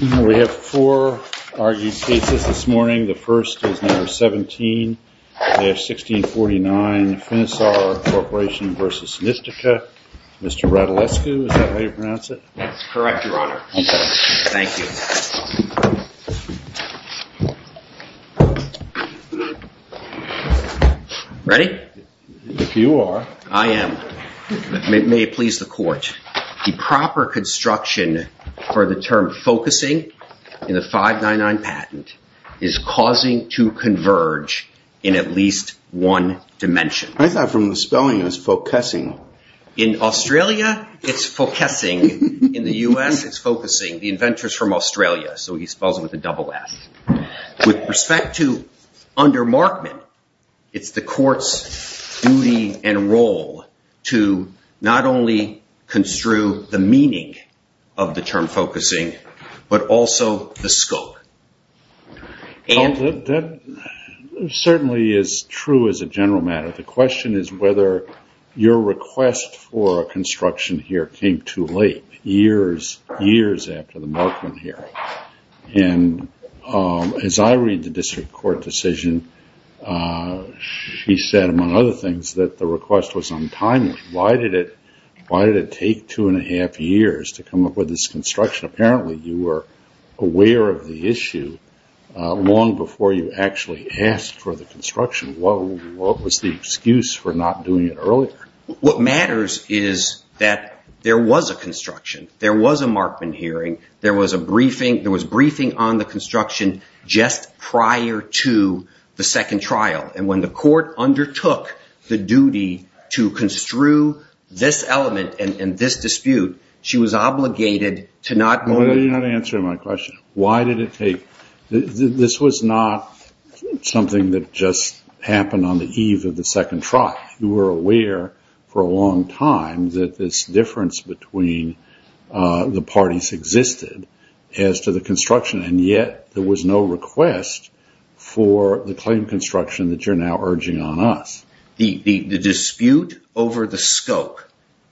We have four argued cases this morning. The first is number 17-1649 Finisar Corporation v. Nistica. Mr. Radulescu, is that how you pronounce it? Correct, Your Honor. Thank you. Ready? If you are. I am. May it please the court. The proper construction for the term focusing in the 599 patent is causing to converge in at least one dimension. I thought from the spelling it was focusing. In Australia, it's focusing. In the US, it's focusing. The inventor is from Australia, so he spells it with a double F. With respect to under Markman, it's the court's duty and role to not only construe the meaning of the term focusing, but also the scope. That certainly is true as a general matter. The question is whether your request for construction here came too late, years after the Markman hearing. As I read the district court decision, she said, among other things, that the request was untimely. Why did it take two and a half years to come up with this construction? Apparently, you were aware of the issue long before you actually asked for the construction. What was the excuse for not doing it earlier? What matters is that there was a construction. There was a Markman hearing. There was a briefing. There was briefing on the construction just prior to the second trial. When the court undertook the duty to construe this element and this dispute, she was obligated to not move it. You're not answering my question. This was not something that just happened on the eve of the second trial. You were aware for a long time that this difference between the parties existed as to the construction, and yet there was no request for the claim construction that you're now urging on us. The dispute over the scope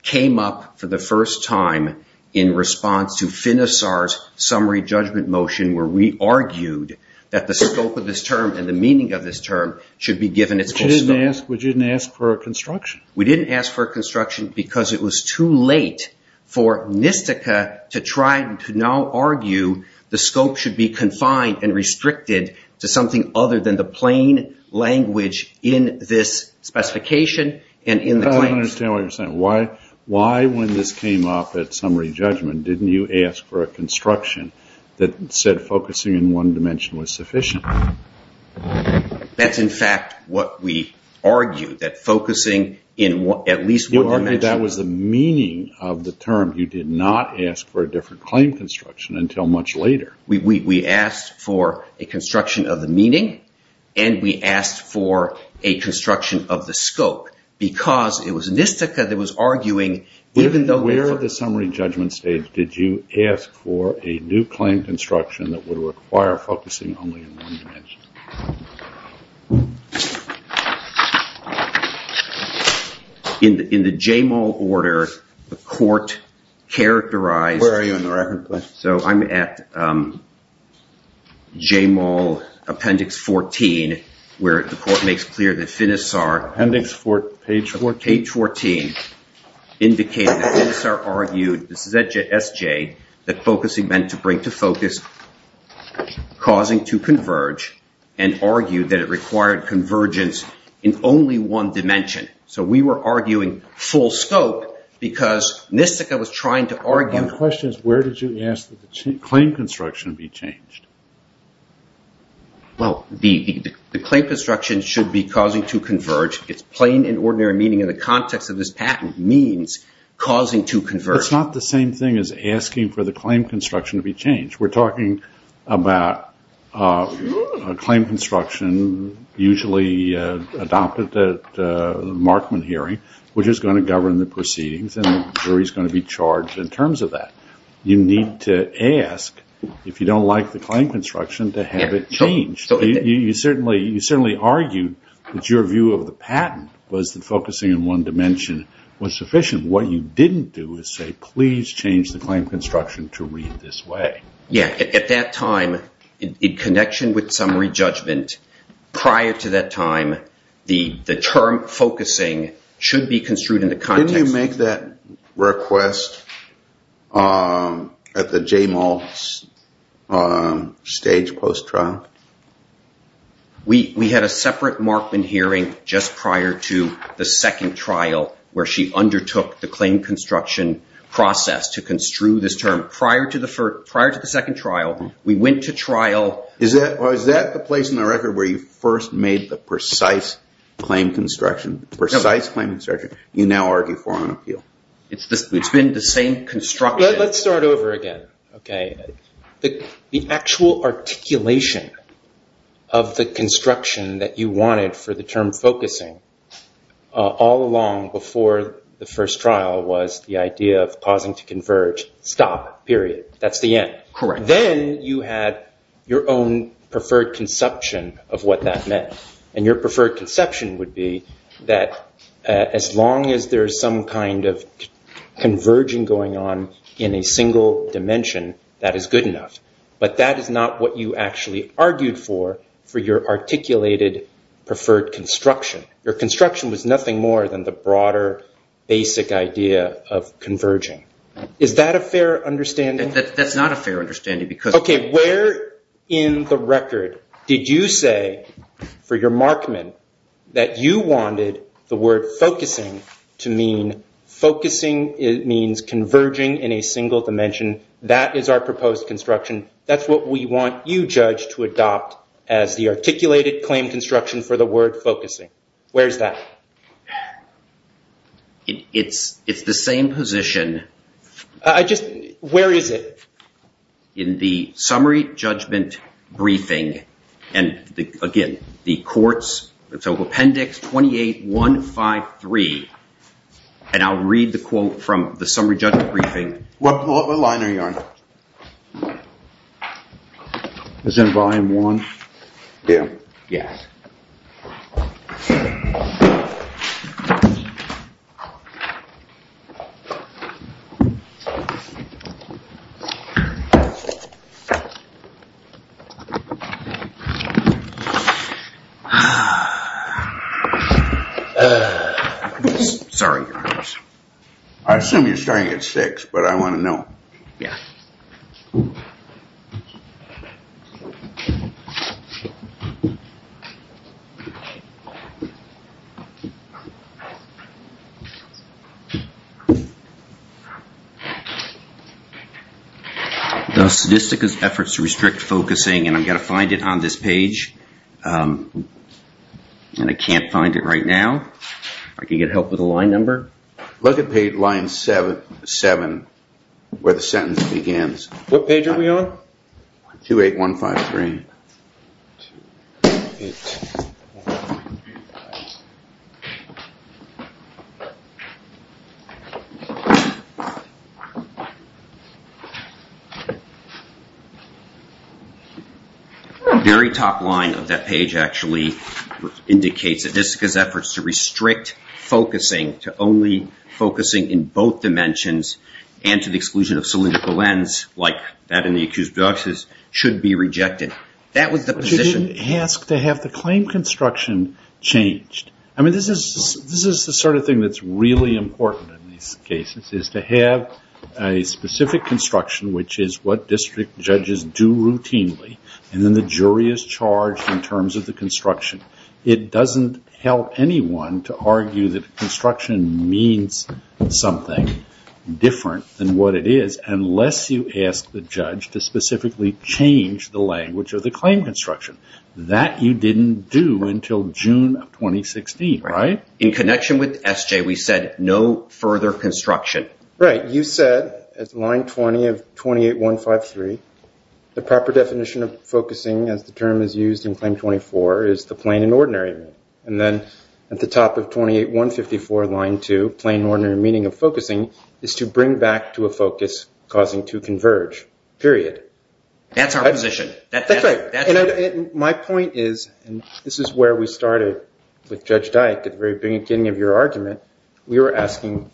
came up for the first time in response to Finisar's summary judgment motion where we argued that the scope of this term and the meaning of this term should be given its full scope. We didn't ask for a construction. We didn't ask for a construction because it was too late for NISTCA to try to now argue the scope should be confined and restricted to something other than the plain language in this specification and in the claims. I don't understand what you're saying. Why, when this came up at summary judgment, didn't you ask for a construction that said focusing in one dimension was sufficient? That's, in fact, what we argued, that focusing in at least one dimension… You argued that was the meaning of the term. You did not ask for a different claim construction until much later. We asked for a construction of the meaning, and we asked for a construction of the scope because it was NISTCA that was arguing, even though… At the summary judgment stage, did you ask for a new claim construction that would require focusing only in one dimension? In the JMOL order, the court characterized… Where are you in the record, please? So I'm at JMOL appendix 14 where the court makes clear that Finisar… Appendix 14? Appendix 14 indicated that Finisar argued, this is SJ, that focusing meant to bring to focus, causing to converge, and argued that it required convergence in only one dimension. So we were arguing full scope because NISTCA was trying to argue… My question is where did you ask that the claim construction be changed? Well, the claim construction should be causing to converge. It's plain and ordinary meaning in the context of this patent means causing to converge. It's not the same thing as asking for the claim construction to be changed. We're talking about a claim construction usually adopted at the Markman hearing, which is going to govern the proceedings, and the jury is going to be charged in terms of that. You need to ask, if you don't like the claim construction, to have it changed. You certainly argued that your view of the patent was that focusing in one dimension was sufficient. What you didn't do is say, please change the claim construction to read this way. Yeah, at that time, in connection with summary judgment, prior to that time, the term focusing should be construed in the context… At the J-Mall stage post-trial? We had a separate Markman hearing just prior to the second trial where she undertook the claim construction process to construe this term. Prior to the second trial, we went to trial… Is that the place in the record where you first made the precise claim construction? The precise claim construction you now argue for on appeal? It's been the same construction… Let's start over again. The actual articulation of the construction that you wanted for the term focusing all along before the first trial was the idea of causing to converge, stop, period. That's the end. Correct. Then you had your own preferred conception of what that meant. Your preferred conception would be that as long as there's some kind of converging going on in a single dimension, that is good enough. But that is not what you actually argued for, for your articulated preferred construction. Your construction was nothing more than the broader basic idea of converging. Is that a fair understanding? That's not a fair understanding because… Where in the record did you say for your markman that you wanted the word focusing to mean… Focusing means converging in a single dimension. That is our proposed construction. That's what we want you, Judge, to adopt as the articulated claim construction for the word focusing. Where is that? It's the same position. Where is it? In the summary judgment briefing and, again, the court's appendix 28-153. And I'll read the quote from the summary judgment briefing. What line are you on? Is it volume one? Yeah. Yes. Sorry. I assume you're starting at six, but I want to know. Yeah. The Statistical Efforts to Restrict Focusing, and I've got to find it on this page. And I can't find it right now. If I could get help with the line number. Look at page line seven where the sentence begins. What page are we on? 28-153. 28-153. The very top line of that page actually indicates that the Statistical Efforts to Restrict Focusing, to only focusing in both dimensions and to the exclusion of cylindrical ends, should be rejected. That was the position. But you didn't ask to have the claim construction changed. I mean, this is the sort of thing that's really important in these cases, is to have a specific construction, which is what district judges do routinely, and then the jury is charged in terms of the construction. It doesn't help anyone to argue that construction means something different than what it is unless you ask the judge to specifically change the language of the claim construction. That you didn't do until June of 2016, right? In connection with SJ, we said no further construction. Right. You said at line 20 of 28-153, the proper definition of focusing, as the term is used in Claim 24, is the plain and ordinary meaning. And then at the top of 28-154, line 2, plain and ordinary meaning of focusing, is to bring back to a focus causing to converge, period. That's our position. That's right. And my point is, and this is where we started with Judge Dyke at the very beginning of your argument, we were asking,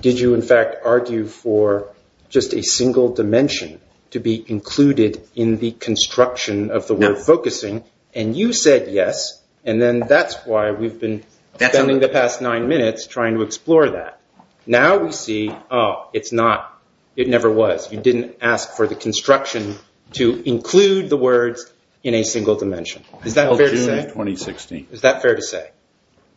did you in fact argue for just a single dimension to be included in the construction of the word focusing? And you said yes, and then that's why we've been spending the past nine minutes trying to explore that. Now we see, oh, it's not. It never was. You didn't ask for the construction to include the words in a single dimension. Is that fair to say? Until June of 2016. Is that fair to say?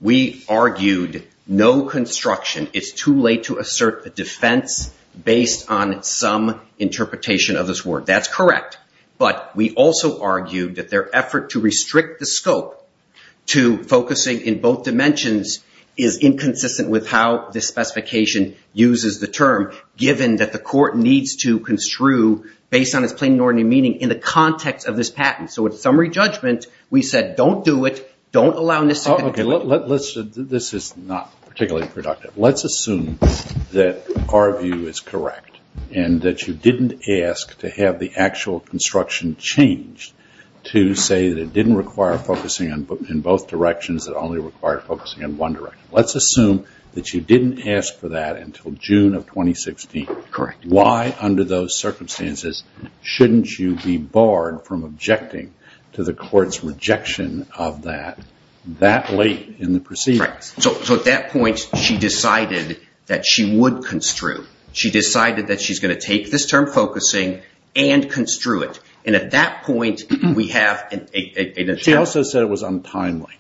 We argued no construction. It's too late to assert a defense based on some interpretation of this word. That's correct. But we also argued that their effort to restrict the scope to focusing in both dimensions is inconsistent with how this specification uses the term, given that the court needs to construe based on its plain and ordinary meaning in the context of this patent. So in summary judgment, we said don't do it. Don't allow this. This is not particularly productive. Let's assume that our view is correct and that you didn't ask to have the actual construction changed to say that it didn't require focusing in both directions. It only required focusing in one direction. Let's assume that you didn't ask for that until June of 2016. Correct. Why under those circumstances shouldn't you be barred from objecting to the court's rejection of that that late in the proceedings? So at that point she decided that she would construe. She decided that she's going to take this term focusing and construe it. And at that point we have an attempt. She also said it was untimely.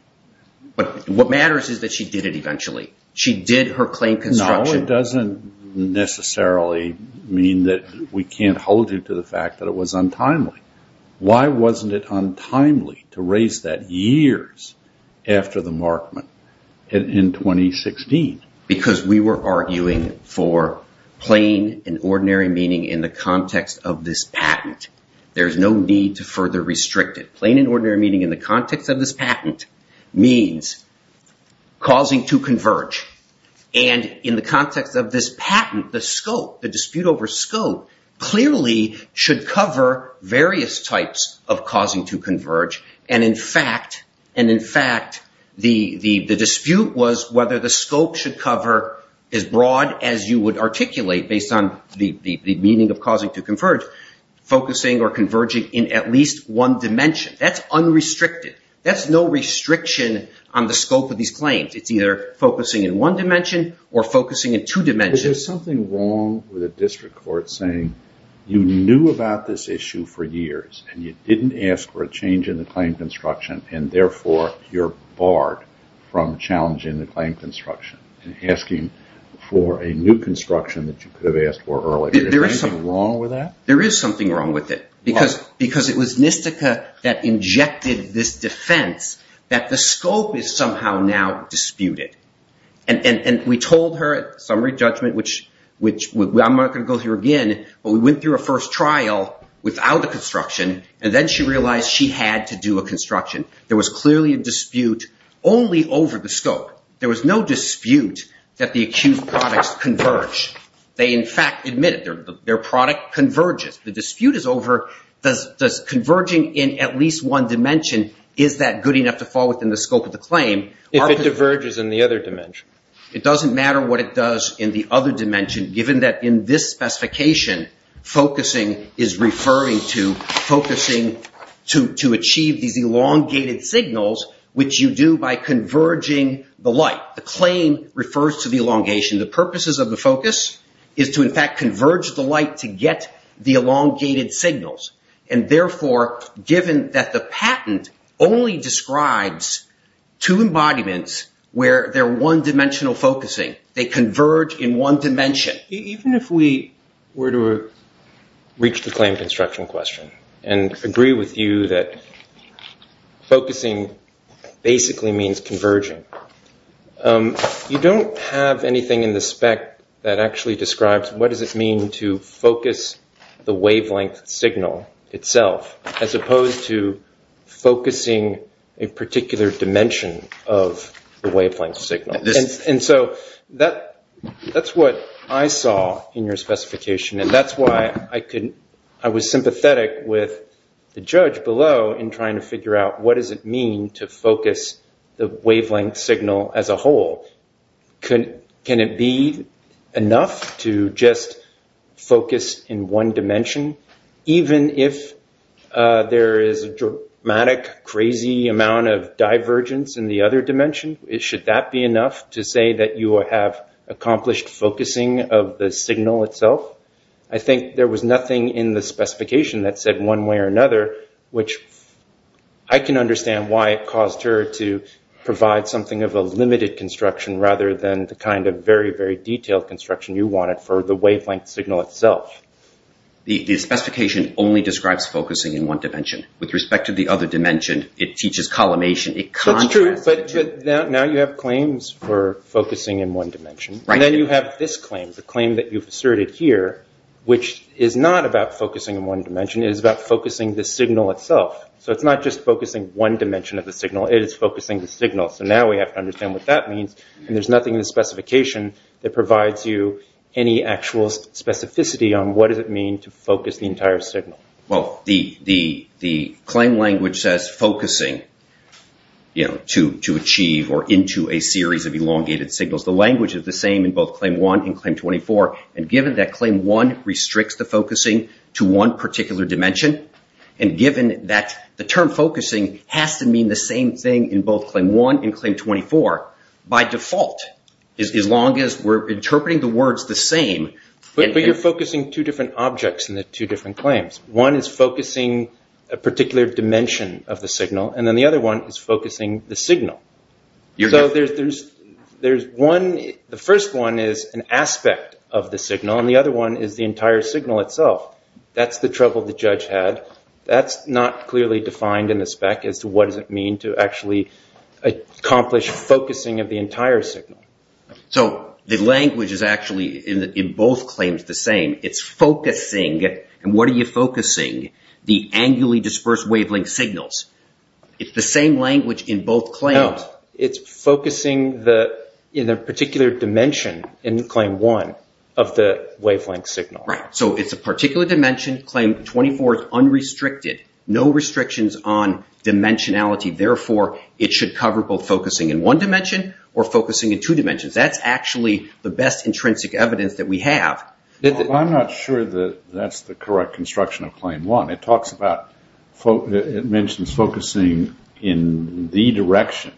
But what matters is that she did it eventually. She did her claim construction. No, it doesn't necessarily mean that we can't hold you to the fact that it was untimely. Why wasn't it untimely to raise that years after the markment in 2016? Because we were arguing for plain and ordinary meaning in the context of this patent. There's no need to further restrict it. Plain and ordinary meaning in the context of this patent means causing to converge. And in the context of this patent, the scope, the dispute over scope, clearly should cover various types of causing to converge. And in fact, the dispute was whether the scope should cover as broad as you would articulate based on the meaning of causing to converge, focusing or converging in at least one dimension. That's unrestricted. That's no restriction on the scope of these claims. It's either focusing in one dimension or focusing in two dimensions. There's something wrong with a district court saying you knew about this issue for years, and you didn't ask for a change in the claim construction. And therefore, you're barred from challenging the claim construction and asking for a new construction that you could have asked for earlier. Is there anything wrong with that? There is something wrong with it. Because it was Nistica that injected this defense that the scope is somehow now disputed. And we told her at summary judgment, which I'm not going to go through again, but we went through a first trial without a construction, and then she realized she had to do a construction. There was clearly a dispute only over the scope. There was no dispute that the accused products converge. They, in fact, admitted their product converges. The dispute is over does converging in at least one dimension, is that good enough to fall within the scope of the claim? If it diverges in the other dimension. It doesn't matter what it does in the other dimension, given that in this specification, focusing is referring to focusing to achieve these elongated signals, which you do by converging the light. The claim refers to the elongation. The purposes of the focus is to, in fact, converge the light to get the elongated signals. And therefore, given that the patent only describes two embodiments where they're one dimensional focusing, they converge in one dimension. Even if we were to reach the claim construction question and agree with you that focusing basically means converging. You don't have anything in the spec that actually describes what does it mean to focus the wavelength signal itself as opposed to focusing a particular dimension of the wavelength signal. And so that's what I saw in your specification. And that's why I was sympathetic with the judge below in trying to figure out what does it mean to focus the wavelength signal as a whole. Can it be enough to just focus in one dimension? Even if there is a dramatic, crazy amount of divergence in the other dimension, should that be enough to say that you have accomplished focusing of the signal itself? I think there was nothing in the specification that said one way or another, which I can understand why it caused her to provide something of a limited construction rather than the kind of very, very detailed construction you wanted for the wavelength signal itself. The specification only describes focusing in one dimension. With respect to the other dimension, it teaches collimation. That's true, but now you have claims for focusing in one dimension. And then you have this claim, the claim that you've asserted here, which is not about focusing in one dimension. It is about focusing the signal itself. So it's not just focusing one dimension of the signal. It is focusing the signal. So now we have to understand what that means, and there's nothing in the specification that provides you any actual specificity on what does it mean to focus the entire signal. Well, the claim language says focusing to achieve or into a series of elongated signals. The language is the same in both Claim 1 and Claim 24. And given that Claim 1 restricts the focusing to one particular dimension, and given that the term focusing has to mean the same thing in both Claim 1 and Claim 24, by default, as long as we're interpreting the words the same. But you're focusing two different objects in the two different claims. One is focusing a particular dimension of the signal, and then the other one is focusing the signal. So there's one. The first one is an aspect of the signal, and the other one is the entire signal itself. That's the trouble the judge had. That's not clearly defined in the spec as to what does it mean to actually accomplish focusing of the entire signal. So the language is actually in both claims the same. It's focusing. And what are you focusing? The angularly dispersed wavelength signals. It's the same language in both claims. It's focusing in a particular dimension in Claim 1 of the wavelength signal. Right. So it's a particular dimension. Claim 24 is unrestricted. No restrictions on dimensionality. Therefore, it should cover both focusing in one dimension or focusing in two dimensions. That's actually the best intrinsic evidence that we have. I'm not sure that that's the correct construction of Claim 1. It mentions focusing in the direction.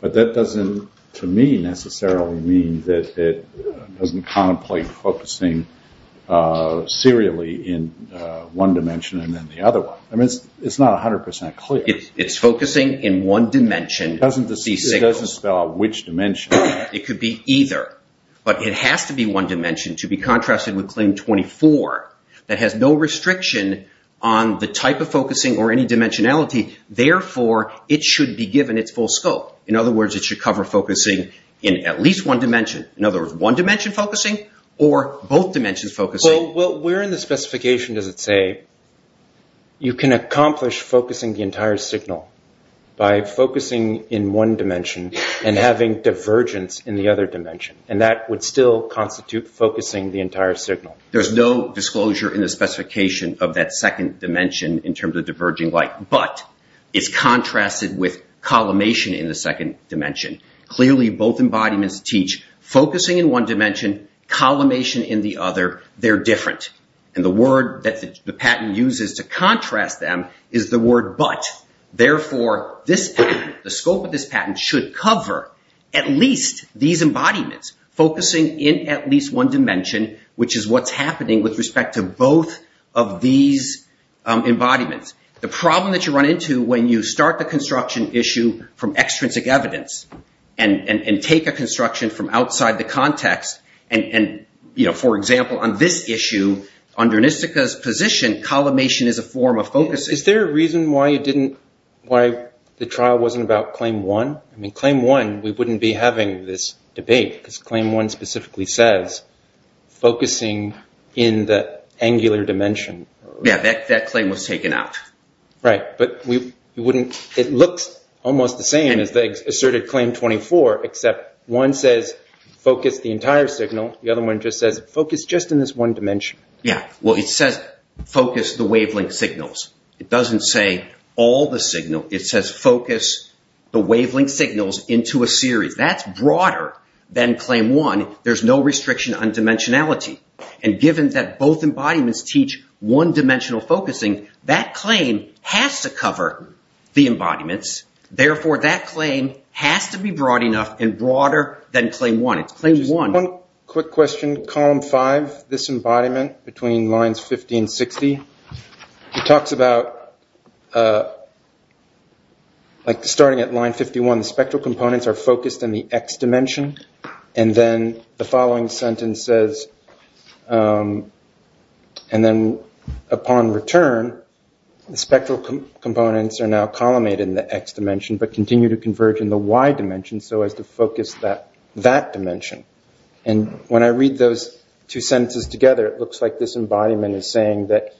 But that doesn't, to me, necessarily mean that it doesn't contemplate focusing serially in one dimension and then the other one. I mean, it's not 100% clear. It's focusing in one dimension. It doesn't spell out which dimension. It could be either. But it has to be one dimension to be contrasted with Claim 24 that has no restriction on the type of focusing or any dimensionality. Therefore, it should be given its full scope. In other words, it should cover focusing in at least one dimension. In other words, one dimension focusing or both dimensions focusing. Well, where in the specification does it say you can accomplish focusing the entire signal by focusing in one dimension and having divergence in the other dimension? And that would still constitute focusing the entire signal. There's no disclosure in the specification of that second dimension in terms of diverging light. But it's contrasted with collimation in the second dimension. Clearly, both embodiments teach focusing in one dimension, collimation in the other. They're different. And the word that the patent uses to contrast them is the word but. Therefore, the scope of this patent should cover at least these embodiments, focusing in at least one dimension, which is what's happening with respect to both of these embodiments. The problem that you run into when you start the construction issue from extrinsic evidence and take a construction from outside the context. And, for example, on this issue, under Nistica's position, collimation is a form of focusing. Is there a reason why the trial wasn't about Claim 1? I mean, Claim 1, we wouldn't be having this debate because Claim 1 specifically says focusing in the angular dimension. Yeah, that claim was taken out. Right. But it looks almost the same as the asserted Claim 24, except one says focus the entire signal. The other one just says focus just in this one dimension. Yeah. Well, it says focus the wavelength signals. It doesn't say all the signal. It says focus the wavelength signals into a series. That's broader than Claim 1. There's no restriction on dimensionality. And given that both embodiments teach one-dimensional focusing, that claim has to cover the embodiments. Therefore, that claim has to be broad enough and broader than Claim 1. Just one quick question. Column 5, this embodiment between lines 50 and 60, it talks about, like, starting at line 51, the spectral components are focused in the X dimension. And then the following sentence says, and then upon return, the spectral components are now collimated in the X dimension but continue to converge in the Y dimension so as to focus that dimension. And when I read those two sentences together, it looks like this embodiment is saying that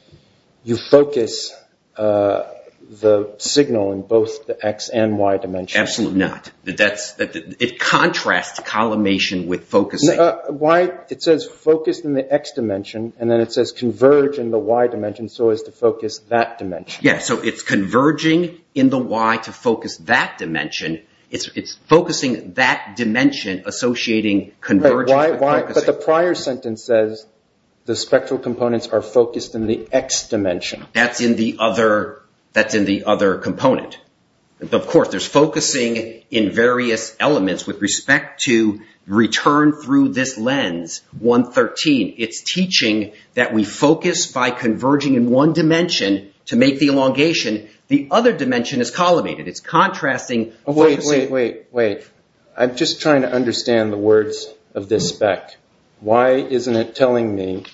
you focus the signal in both the X and Y dimensions. Absolutely not. It contrasts collimation with focusing. Why? It says focus in the X dimension, and then it says converge in the Y dimension so as to focus that dimension. Yeah, so it's converging in the Y to focus that dimension. It's focusing that dimension associating convergence with focusing. But the prior sentence says the spectral components are focused in the X dimension. That's in the other component. Of course, there's focusing in various elements with respect to return through this lens, 113. It's teaching that we focus by converging in one dimension to make the elongation. The other dimension is collimated. Wait, wait, wait. I'm just trying to understand the words of this spec. Why isn't it telling me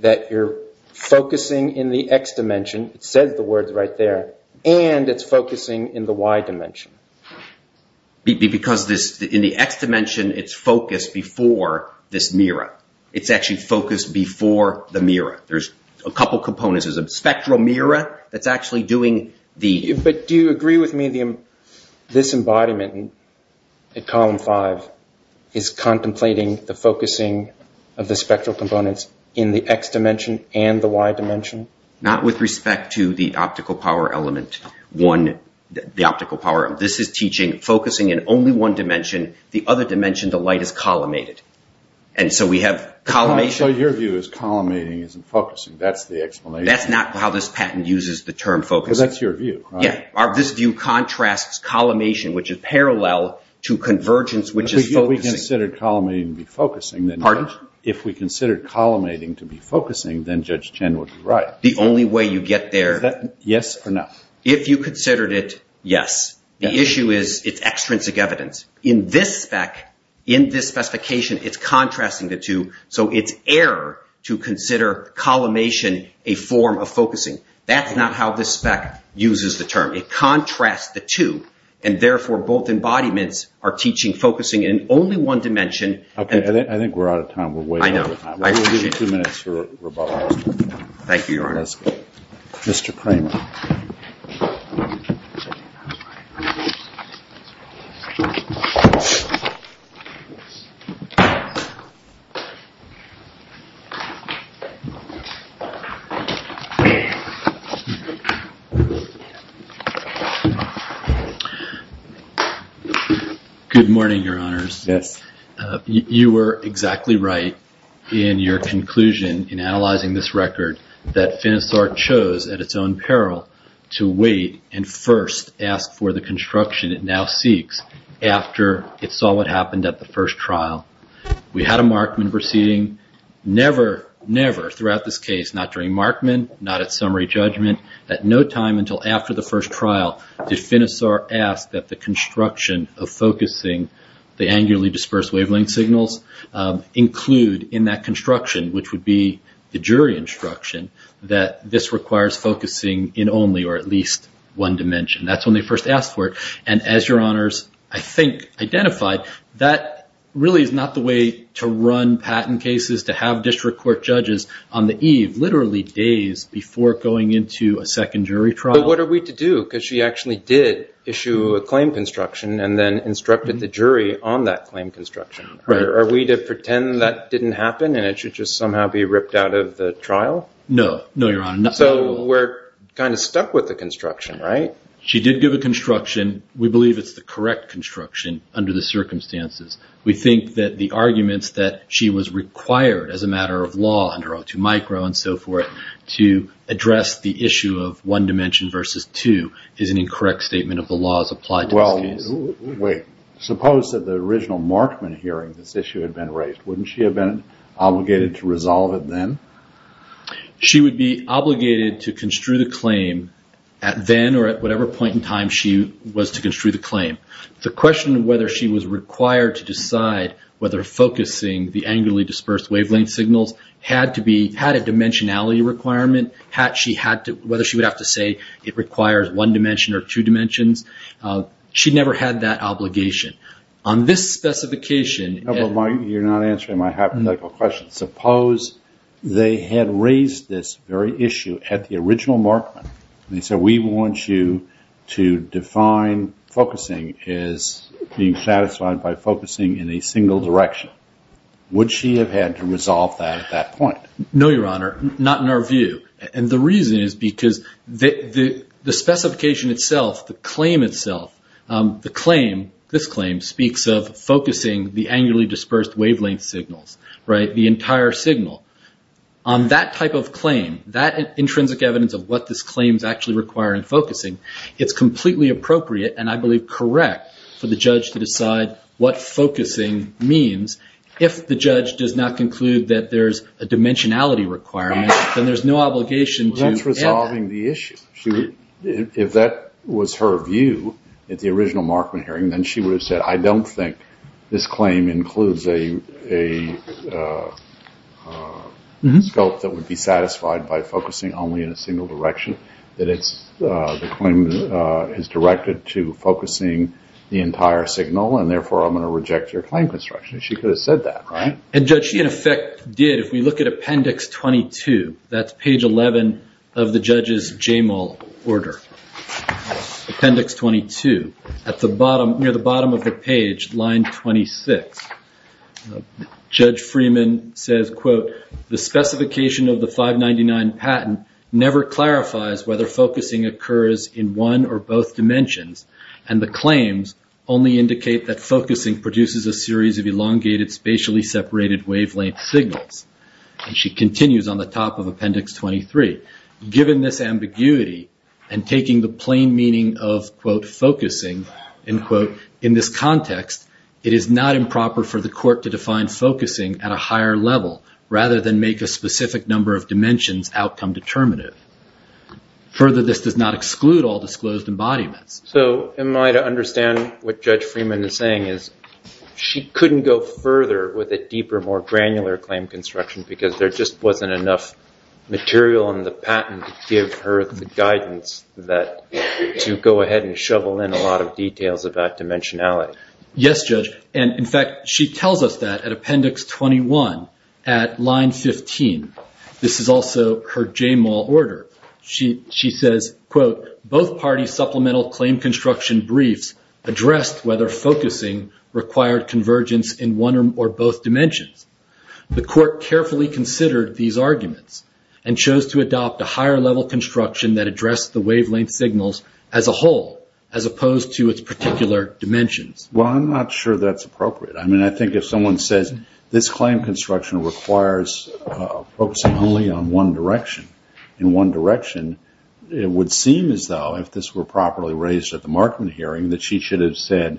that you're focusing in the X dimension, it says the words right there, and it's focusing in the Y dimension? Because in the X dimension, it's focused before this mirror. It's actually focused before the mirror. There's a couple components. There's a spectral mirror that's actually doing the… But do you agree with me this embodiment in column 5 is contemplating the focusing of the spectral components in the X dimension and the Y dimension? Not with respect to the optical power element, the optical power. This is teaching focusing in only one dimension. The other dimension, the light is collimated. And so we have collimation… So your view is collimating isn't focusing. That's the explanation. That's not how this patent uses the term focusing. Because that's your view, right? Yeah. This view contrasts collimation, which is parallel, to convergence, which is focusing. If we considered collimating to be focusing… Pardon? If we considered collimating to be focusing, then Judge Chen would be right. The only way you get there… Is that yes or no? If you considered it, yes. The issue is it's extrinsic evidence. In this spec, in this specification, it's contrasting the two, so it's error to consider collimation a form of focusing. That's not how this spec uses the term. It contrasts the two, and therefore both embodiments are teaching focusing in only one dimension. Okay. I think we're out of time. We're way out of time. I know. I appreciate it. We'll give you two minutes for rebuttal. Thank you, Your Honor. Mr. Kramer. Good morning, Your Honors. Yes. You were exactly right in your conclusion in analyzing this record that FINISAR chose at its own peril to wait and first ask for the construction it now seeks after it saw what happened at the first trial. We had a Markman proceeding. Never, never throughout this case, not during Markman, not at summary judgment, at no time until after the first trial did FINISAR ask that the construction of focusing the angularly dispersed wavelength signals include in that construction, which would be the jury instruction, that this requires focusing in only or at least one dimension. That's when they first asked for it. And as Your Honors, I think, identified, that really is not the way to run patent cases, to have district court judges on the eve, literally days before going into a second jury trial. But what are we to do? Because she actually did issue a claim construction and then instructed the jury on that claim construction. Are we to pretend that didn't happen and it should just somehow be ripped out of the trial? No. No, Your Honor. So we're kind of stuck with the construction, right? She did give a construction. We believe it's the correct construction under the circumstances. We think that the arguments that she was required as a matter of law under O2 micro and so forth to address the issue of one dimension versus two is an incorrect statement of the law as applied to this case. Well, wait. Suppose that the original Markman hearing this issue had been raised. Wouldn't she have been obligated to resolve it then? She would be obligated to construe the claim at then or at whatever point in time she was to construe the claim. The question of whether she was required to decide whether focusing the angularly dispersed wavelength signals had a dimensionality requirement, whether she would have to say it requires one dimension or two dimensions, she never had that obligation. On this specification... No, but you're not answering my hypothetical question. Suppose they had raised this very issue at the original Markman and they said we want you to define focusing as being satisfied by focusing in a single direction. Would she have had to resolve that at that point? No, Your Honor. Not in our view. And the reason is because the specification itself, the claim itself, the claim, this claim, speaks of focusing the angularly dispersed wavelength signals, right? The entire signal. On that type of claim, that intrinsic evidence of what this claim is actually requiring focusing, it's completely appropriate and I believe correct for the judge to decide what focusing means. If the judge does not conclude that there's a dimensionality requirement, then there's no obligation to... That's resolving the issue. If that was her view at the original Markman hearing, then she would have said I don't think this claim includes a scope that would be satisfied by focusing only in a single direction, that the claim is directed to focusing the entire signal and therefore I'm going to reject your claim construction. She could have said that, right? And, Judge, she in effect did. If we look at Appendix 22, that's page 11 of the judge's JML order, Appendix 22. At the bottom, near the bottom of the page, line 26, Judge Freeman says, quote, The specification of the 599 patent never clarifies whether focusing occurs in one or both dimensions and the claims only indicate that focusing produces a series of elongated spatially separated wavelength signals. And she continues on the top of Appendix 23. Given this ambiguity and taking the plain meaning of, quote, focusing, end quote, in this context, it is not improper for the court to define focusing at a higher level rather than make a specific number of dimensions outcome determinative. Further, this does not exclude all disclosed embodiments. So am I to understand what Judge Freeman is saying is she couldn't go further with a deeper, more granular claim construction because there just wasn't enough material in the patent to give her the guidance to go ahead and shovel in a lot of details about dimensionality? Yes, Judge. And, in fact, she tells us that at Appendix 21 at line 15. This is also her JML order. She says, quote, Both parties' supplemental claim construction briefs addressed whether focusing required convergence in one or both dimensions. The court carefully considered these arguments and chose to adopt a higher level construction that addressed the wavelength signals as a whole, as opposed to its particular dimensions. Well, I'm not sure that's appropriate. I mean, I think if someone says this claim construction requires focusing only on one direction, in one direction it would seem as though if this were properly raised at the Markman hearing that she should have said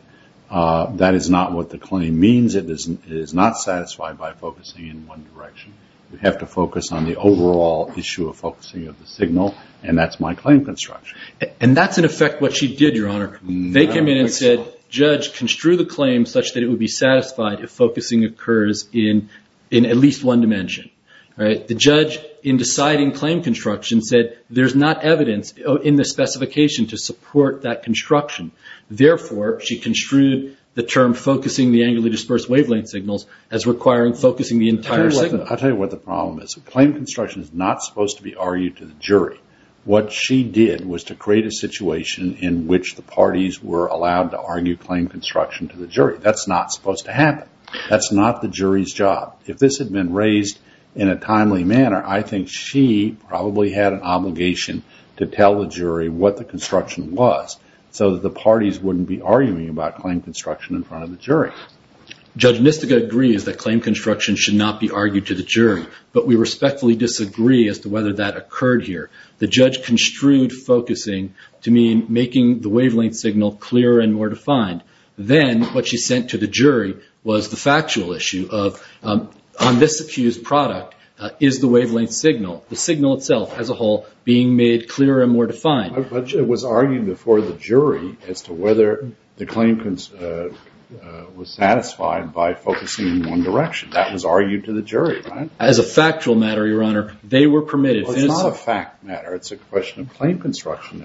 that is not what the claim means, it is not satisfied by focusing in one direction. We have to focus on the overall issue of focusing of the signal, and that's my claim construction. And that's, in effect, what she did, Your Honor. They came in and said, Judge, construe the claim such that it would be satisfied if focusing occurs in at least one dimension. The judge, in deciding claim construction, said there's not evidence in the specification to support that construction. Therefore, she construed the term focusing the angularly dispersed wavelength signals as requiring focusing the entire signal. I'll tell you what the problem is. Claim construction is not supposed to be argued to the jury. What she did was to create a situation in which the parties were allowed to argue claim construction to the jury. That's not supposed to happen. That's not the jury's job. If this had been raised in a timely manner, I think she probably had an obligation to tell the jury what the construction was so that the parties wouldn't be arguing about claim construction in front of the jury. Judge Nistica agrees that claim construction should not be argued to the jury, but we respectfully disagree as to whether that occurred here. The judge construed focusing to mean making the wavelength signal clearer and more defined. Then what she sent to the jury was the factual issue of, on this accused product, is the wavelength signal, the signal itself as a whole, being made clearer and more defined? But it was argued before the jury as to whether the claim was satisfied by focusing in one direction. That was argued to the jury, right? As a factual matter, Your Honor, they were permitted. Well, it's not a fact matter. It's a question of claim construction.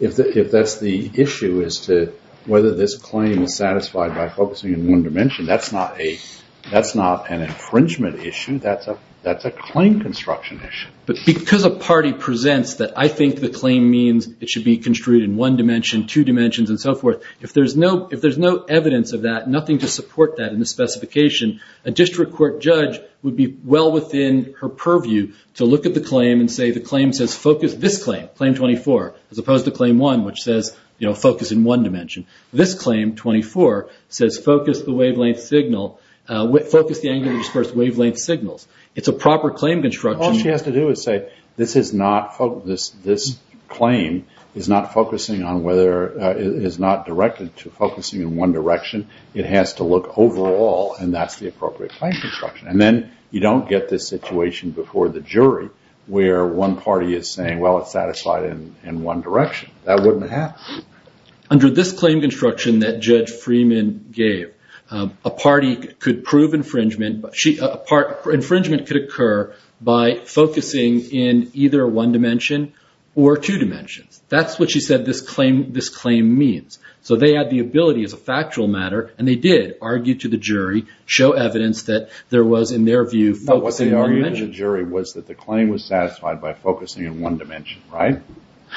If that's the issue as to whether this claim was satisfied by focusing in one dimension, that's not an infringement issue. That's a claim construction issue. But because a party presents that I think the claim means it should be construed in one dimension, two dimensions, and so forth, if there's no evidence of that, nothing to support that in the specification, a district court judge would be well within her purview to look at the claim and say the claim says focus this claim, Claim 24, as opposed to Claim 1, which says, you know, focus in one dimension. This Claim 24 says focus the wavelength signal, focus the angular dispersed wavelength signals. It's a proper claim construction. All she has to do is say this claim is not directed to focusing in one direction. It has to look overall, and that's the appropriate claim construction. And then you don't get this situation before the jury where one party is saying, well, it's satisfied in one direction. That wouldn't have happened. Under this claim construction that Judge Freeman gave, a party could prove infringement, infringement could occur by focusing in either one dimension or two dimensions. That's what she said this claim means. So they had the ability as a factual matter, and they did argue to the jury, show evidence that there was, in their view, focusing in one dimension. What they argued to the jury was that the claim was satisfied by focusing in one dimension, right?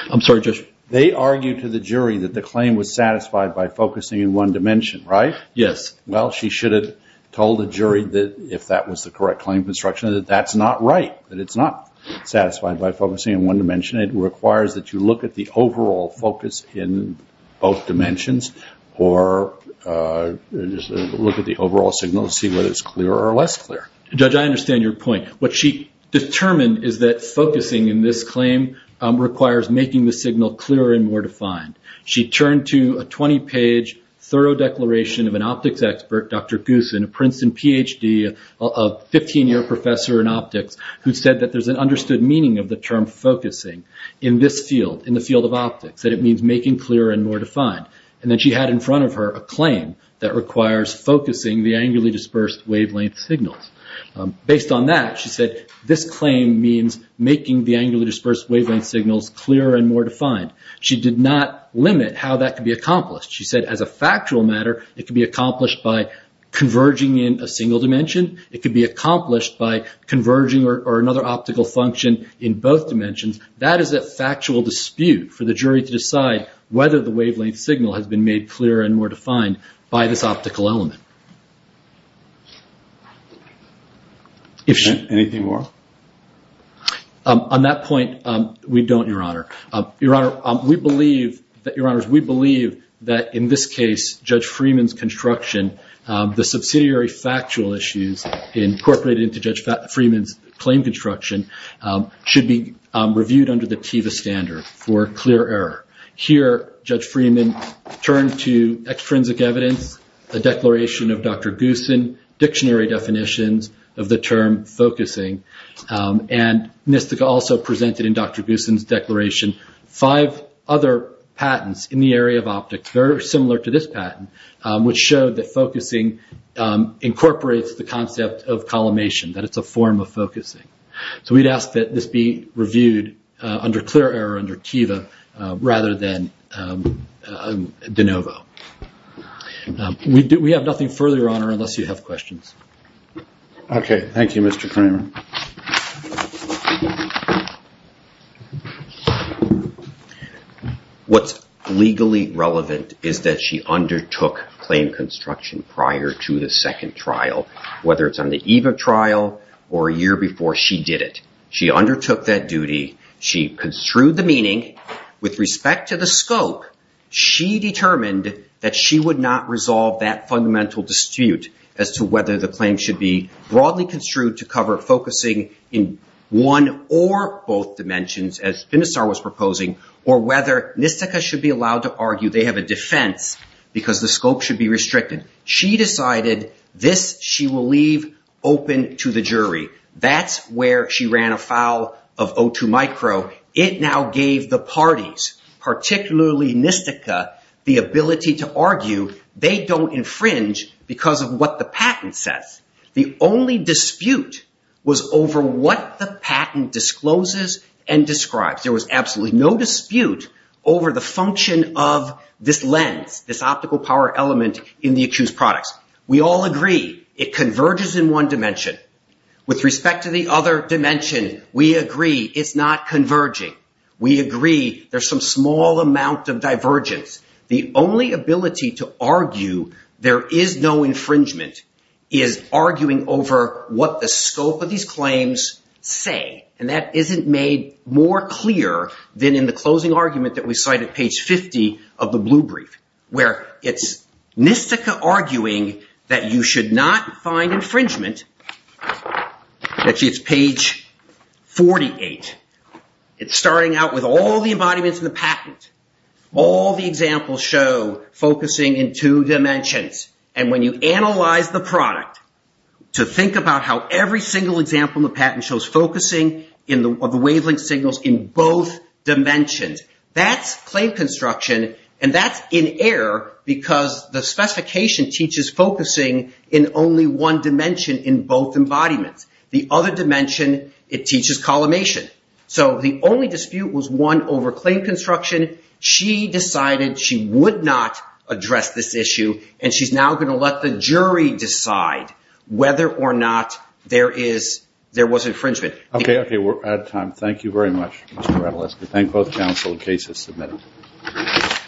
I'm sorry, Judge? They argued to the jury that the claim was satisfied by focusing in one dimension, right? Yes. Well, she should have told the jury that if that was the correct claim construction, that that's not right, that it's not satisfied by focusing in one dimension. It requires that you look at the overall focus in both dimensions or look at the overall signal to see whether it's clearer or less clear. Judge, I understand your point. What she determined is that focusing in this claim requires making the signal clearer and more defined. She turned to a 20-page thorough declaration of an optics expert, Dr. Goosen, a Princeton PhD, a 15-year professor in optics who said that there's an understood meaning of the term focusing in this field, in the field of optics, that it means making clearer and more defined. And then she had in front of her a claim that requires focusing the angularly dispersed wavelength signals. Based on that, she said this claim means making the angularly dispersed wavelength signals clearer and more defined. She did not limit how that could be accomplished. She said as a factual matter, it could be accomplished by converging in a single dimension. It could be accomplished by converging or another optical function in both dimensions. That is a factual dispute for the jury to decide whether the wavelength signal has been made clearer and more defined by this optical element. Anything more? On that point, we don't, Your Honor. Your Honor, we believe that, Your Honors, we believe that in this case, Judge Freeman's construction, the subsidiary factual issues incorporated into Judge Freeman's claim construction should be reviewed under the TEVA standard for clear error. Here, Judge Freeman turned to extrinsic evidence, a declaration of Dr. Goosen, dictionary definitions of the term focusing, and NISTCA also presented in Dr. Goosen's declaration five other patents in the area of optics, very similar to this patent, which showed that focusing incorporates the concept of collimation, that it's a form of focusing. We'd ask that this be reviewed under clear error, under TEVA, rather than de novo. We have nothing further, Your Honor, unless you have questions. Okay. Thank you, Mr. Kramer. What's legally relevant is that she undertook claim construction prior to the second trial, whether it's on the eve of trial or a year before, she did it. She undertook that duty. She construed the meaning. With respect to the scope, she determined that she would not resolve that fundamental dispute as to whether the claim should be broadly construed to cover focusing in one or both dimensions, as Finistar was proposing, or whether NISTCA should be allowed to argue they have a defense because the scope should be restricted. She decided this she will leave open to the jury. That's where she ran afoul of O2 Micro. It now gave the parties, particularly NISTCA, the ability to argue they don't infringe because of what the patent says. The only dispute was over what the patent discloses and describes. There was absolutely no dispute over the function of this lens, this optical power element in the accused products. We all agree it converges in one dimension. With respect to the other dimension, we agree it's not converging. We agree there's some small amount of divergence. The only ability to argue there is no infringement is arguing over what the scope of these claims say. That isn't made more clear than in the closing argument that we cite at page 50 of the blue brief, where it's NISTCA arguing that you should not find infringement. It's page 48. It's starting out with all the embodiments of the patent. All the examples show focusing in two dimensions. When you analyze the product to think about how every single example in the patent shows focusing of the wavelength signals in both dimensions, that's claim construction. That's in error because the specification teaches focusing in only one dimension in both embodiments. The other dimension, it teaches collimation. The only dispute was won over claim construction. She decided she would not address this issue, and she's now going to let the jury decide whether or not there was infringement. Okay. We're out of time. Thank you very much, Mr. Rattlesnake. Thank both counsel. The case is submitted.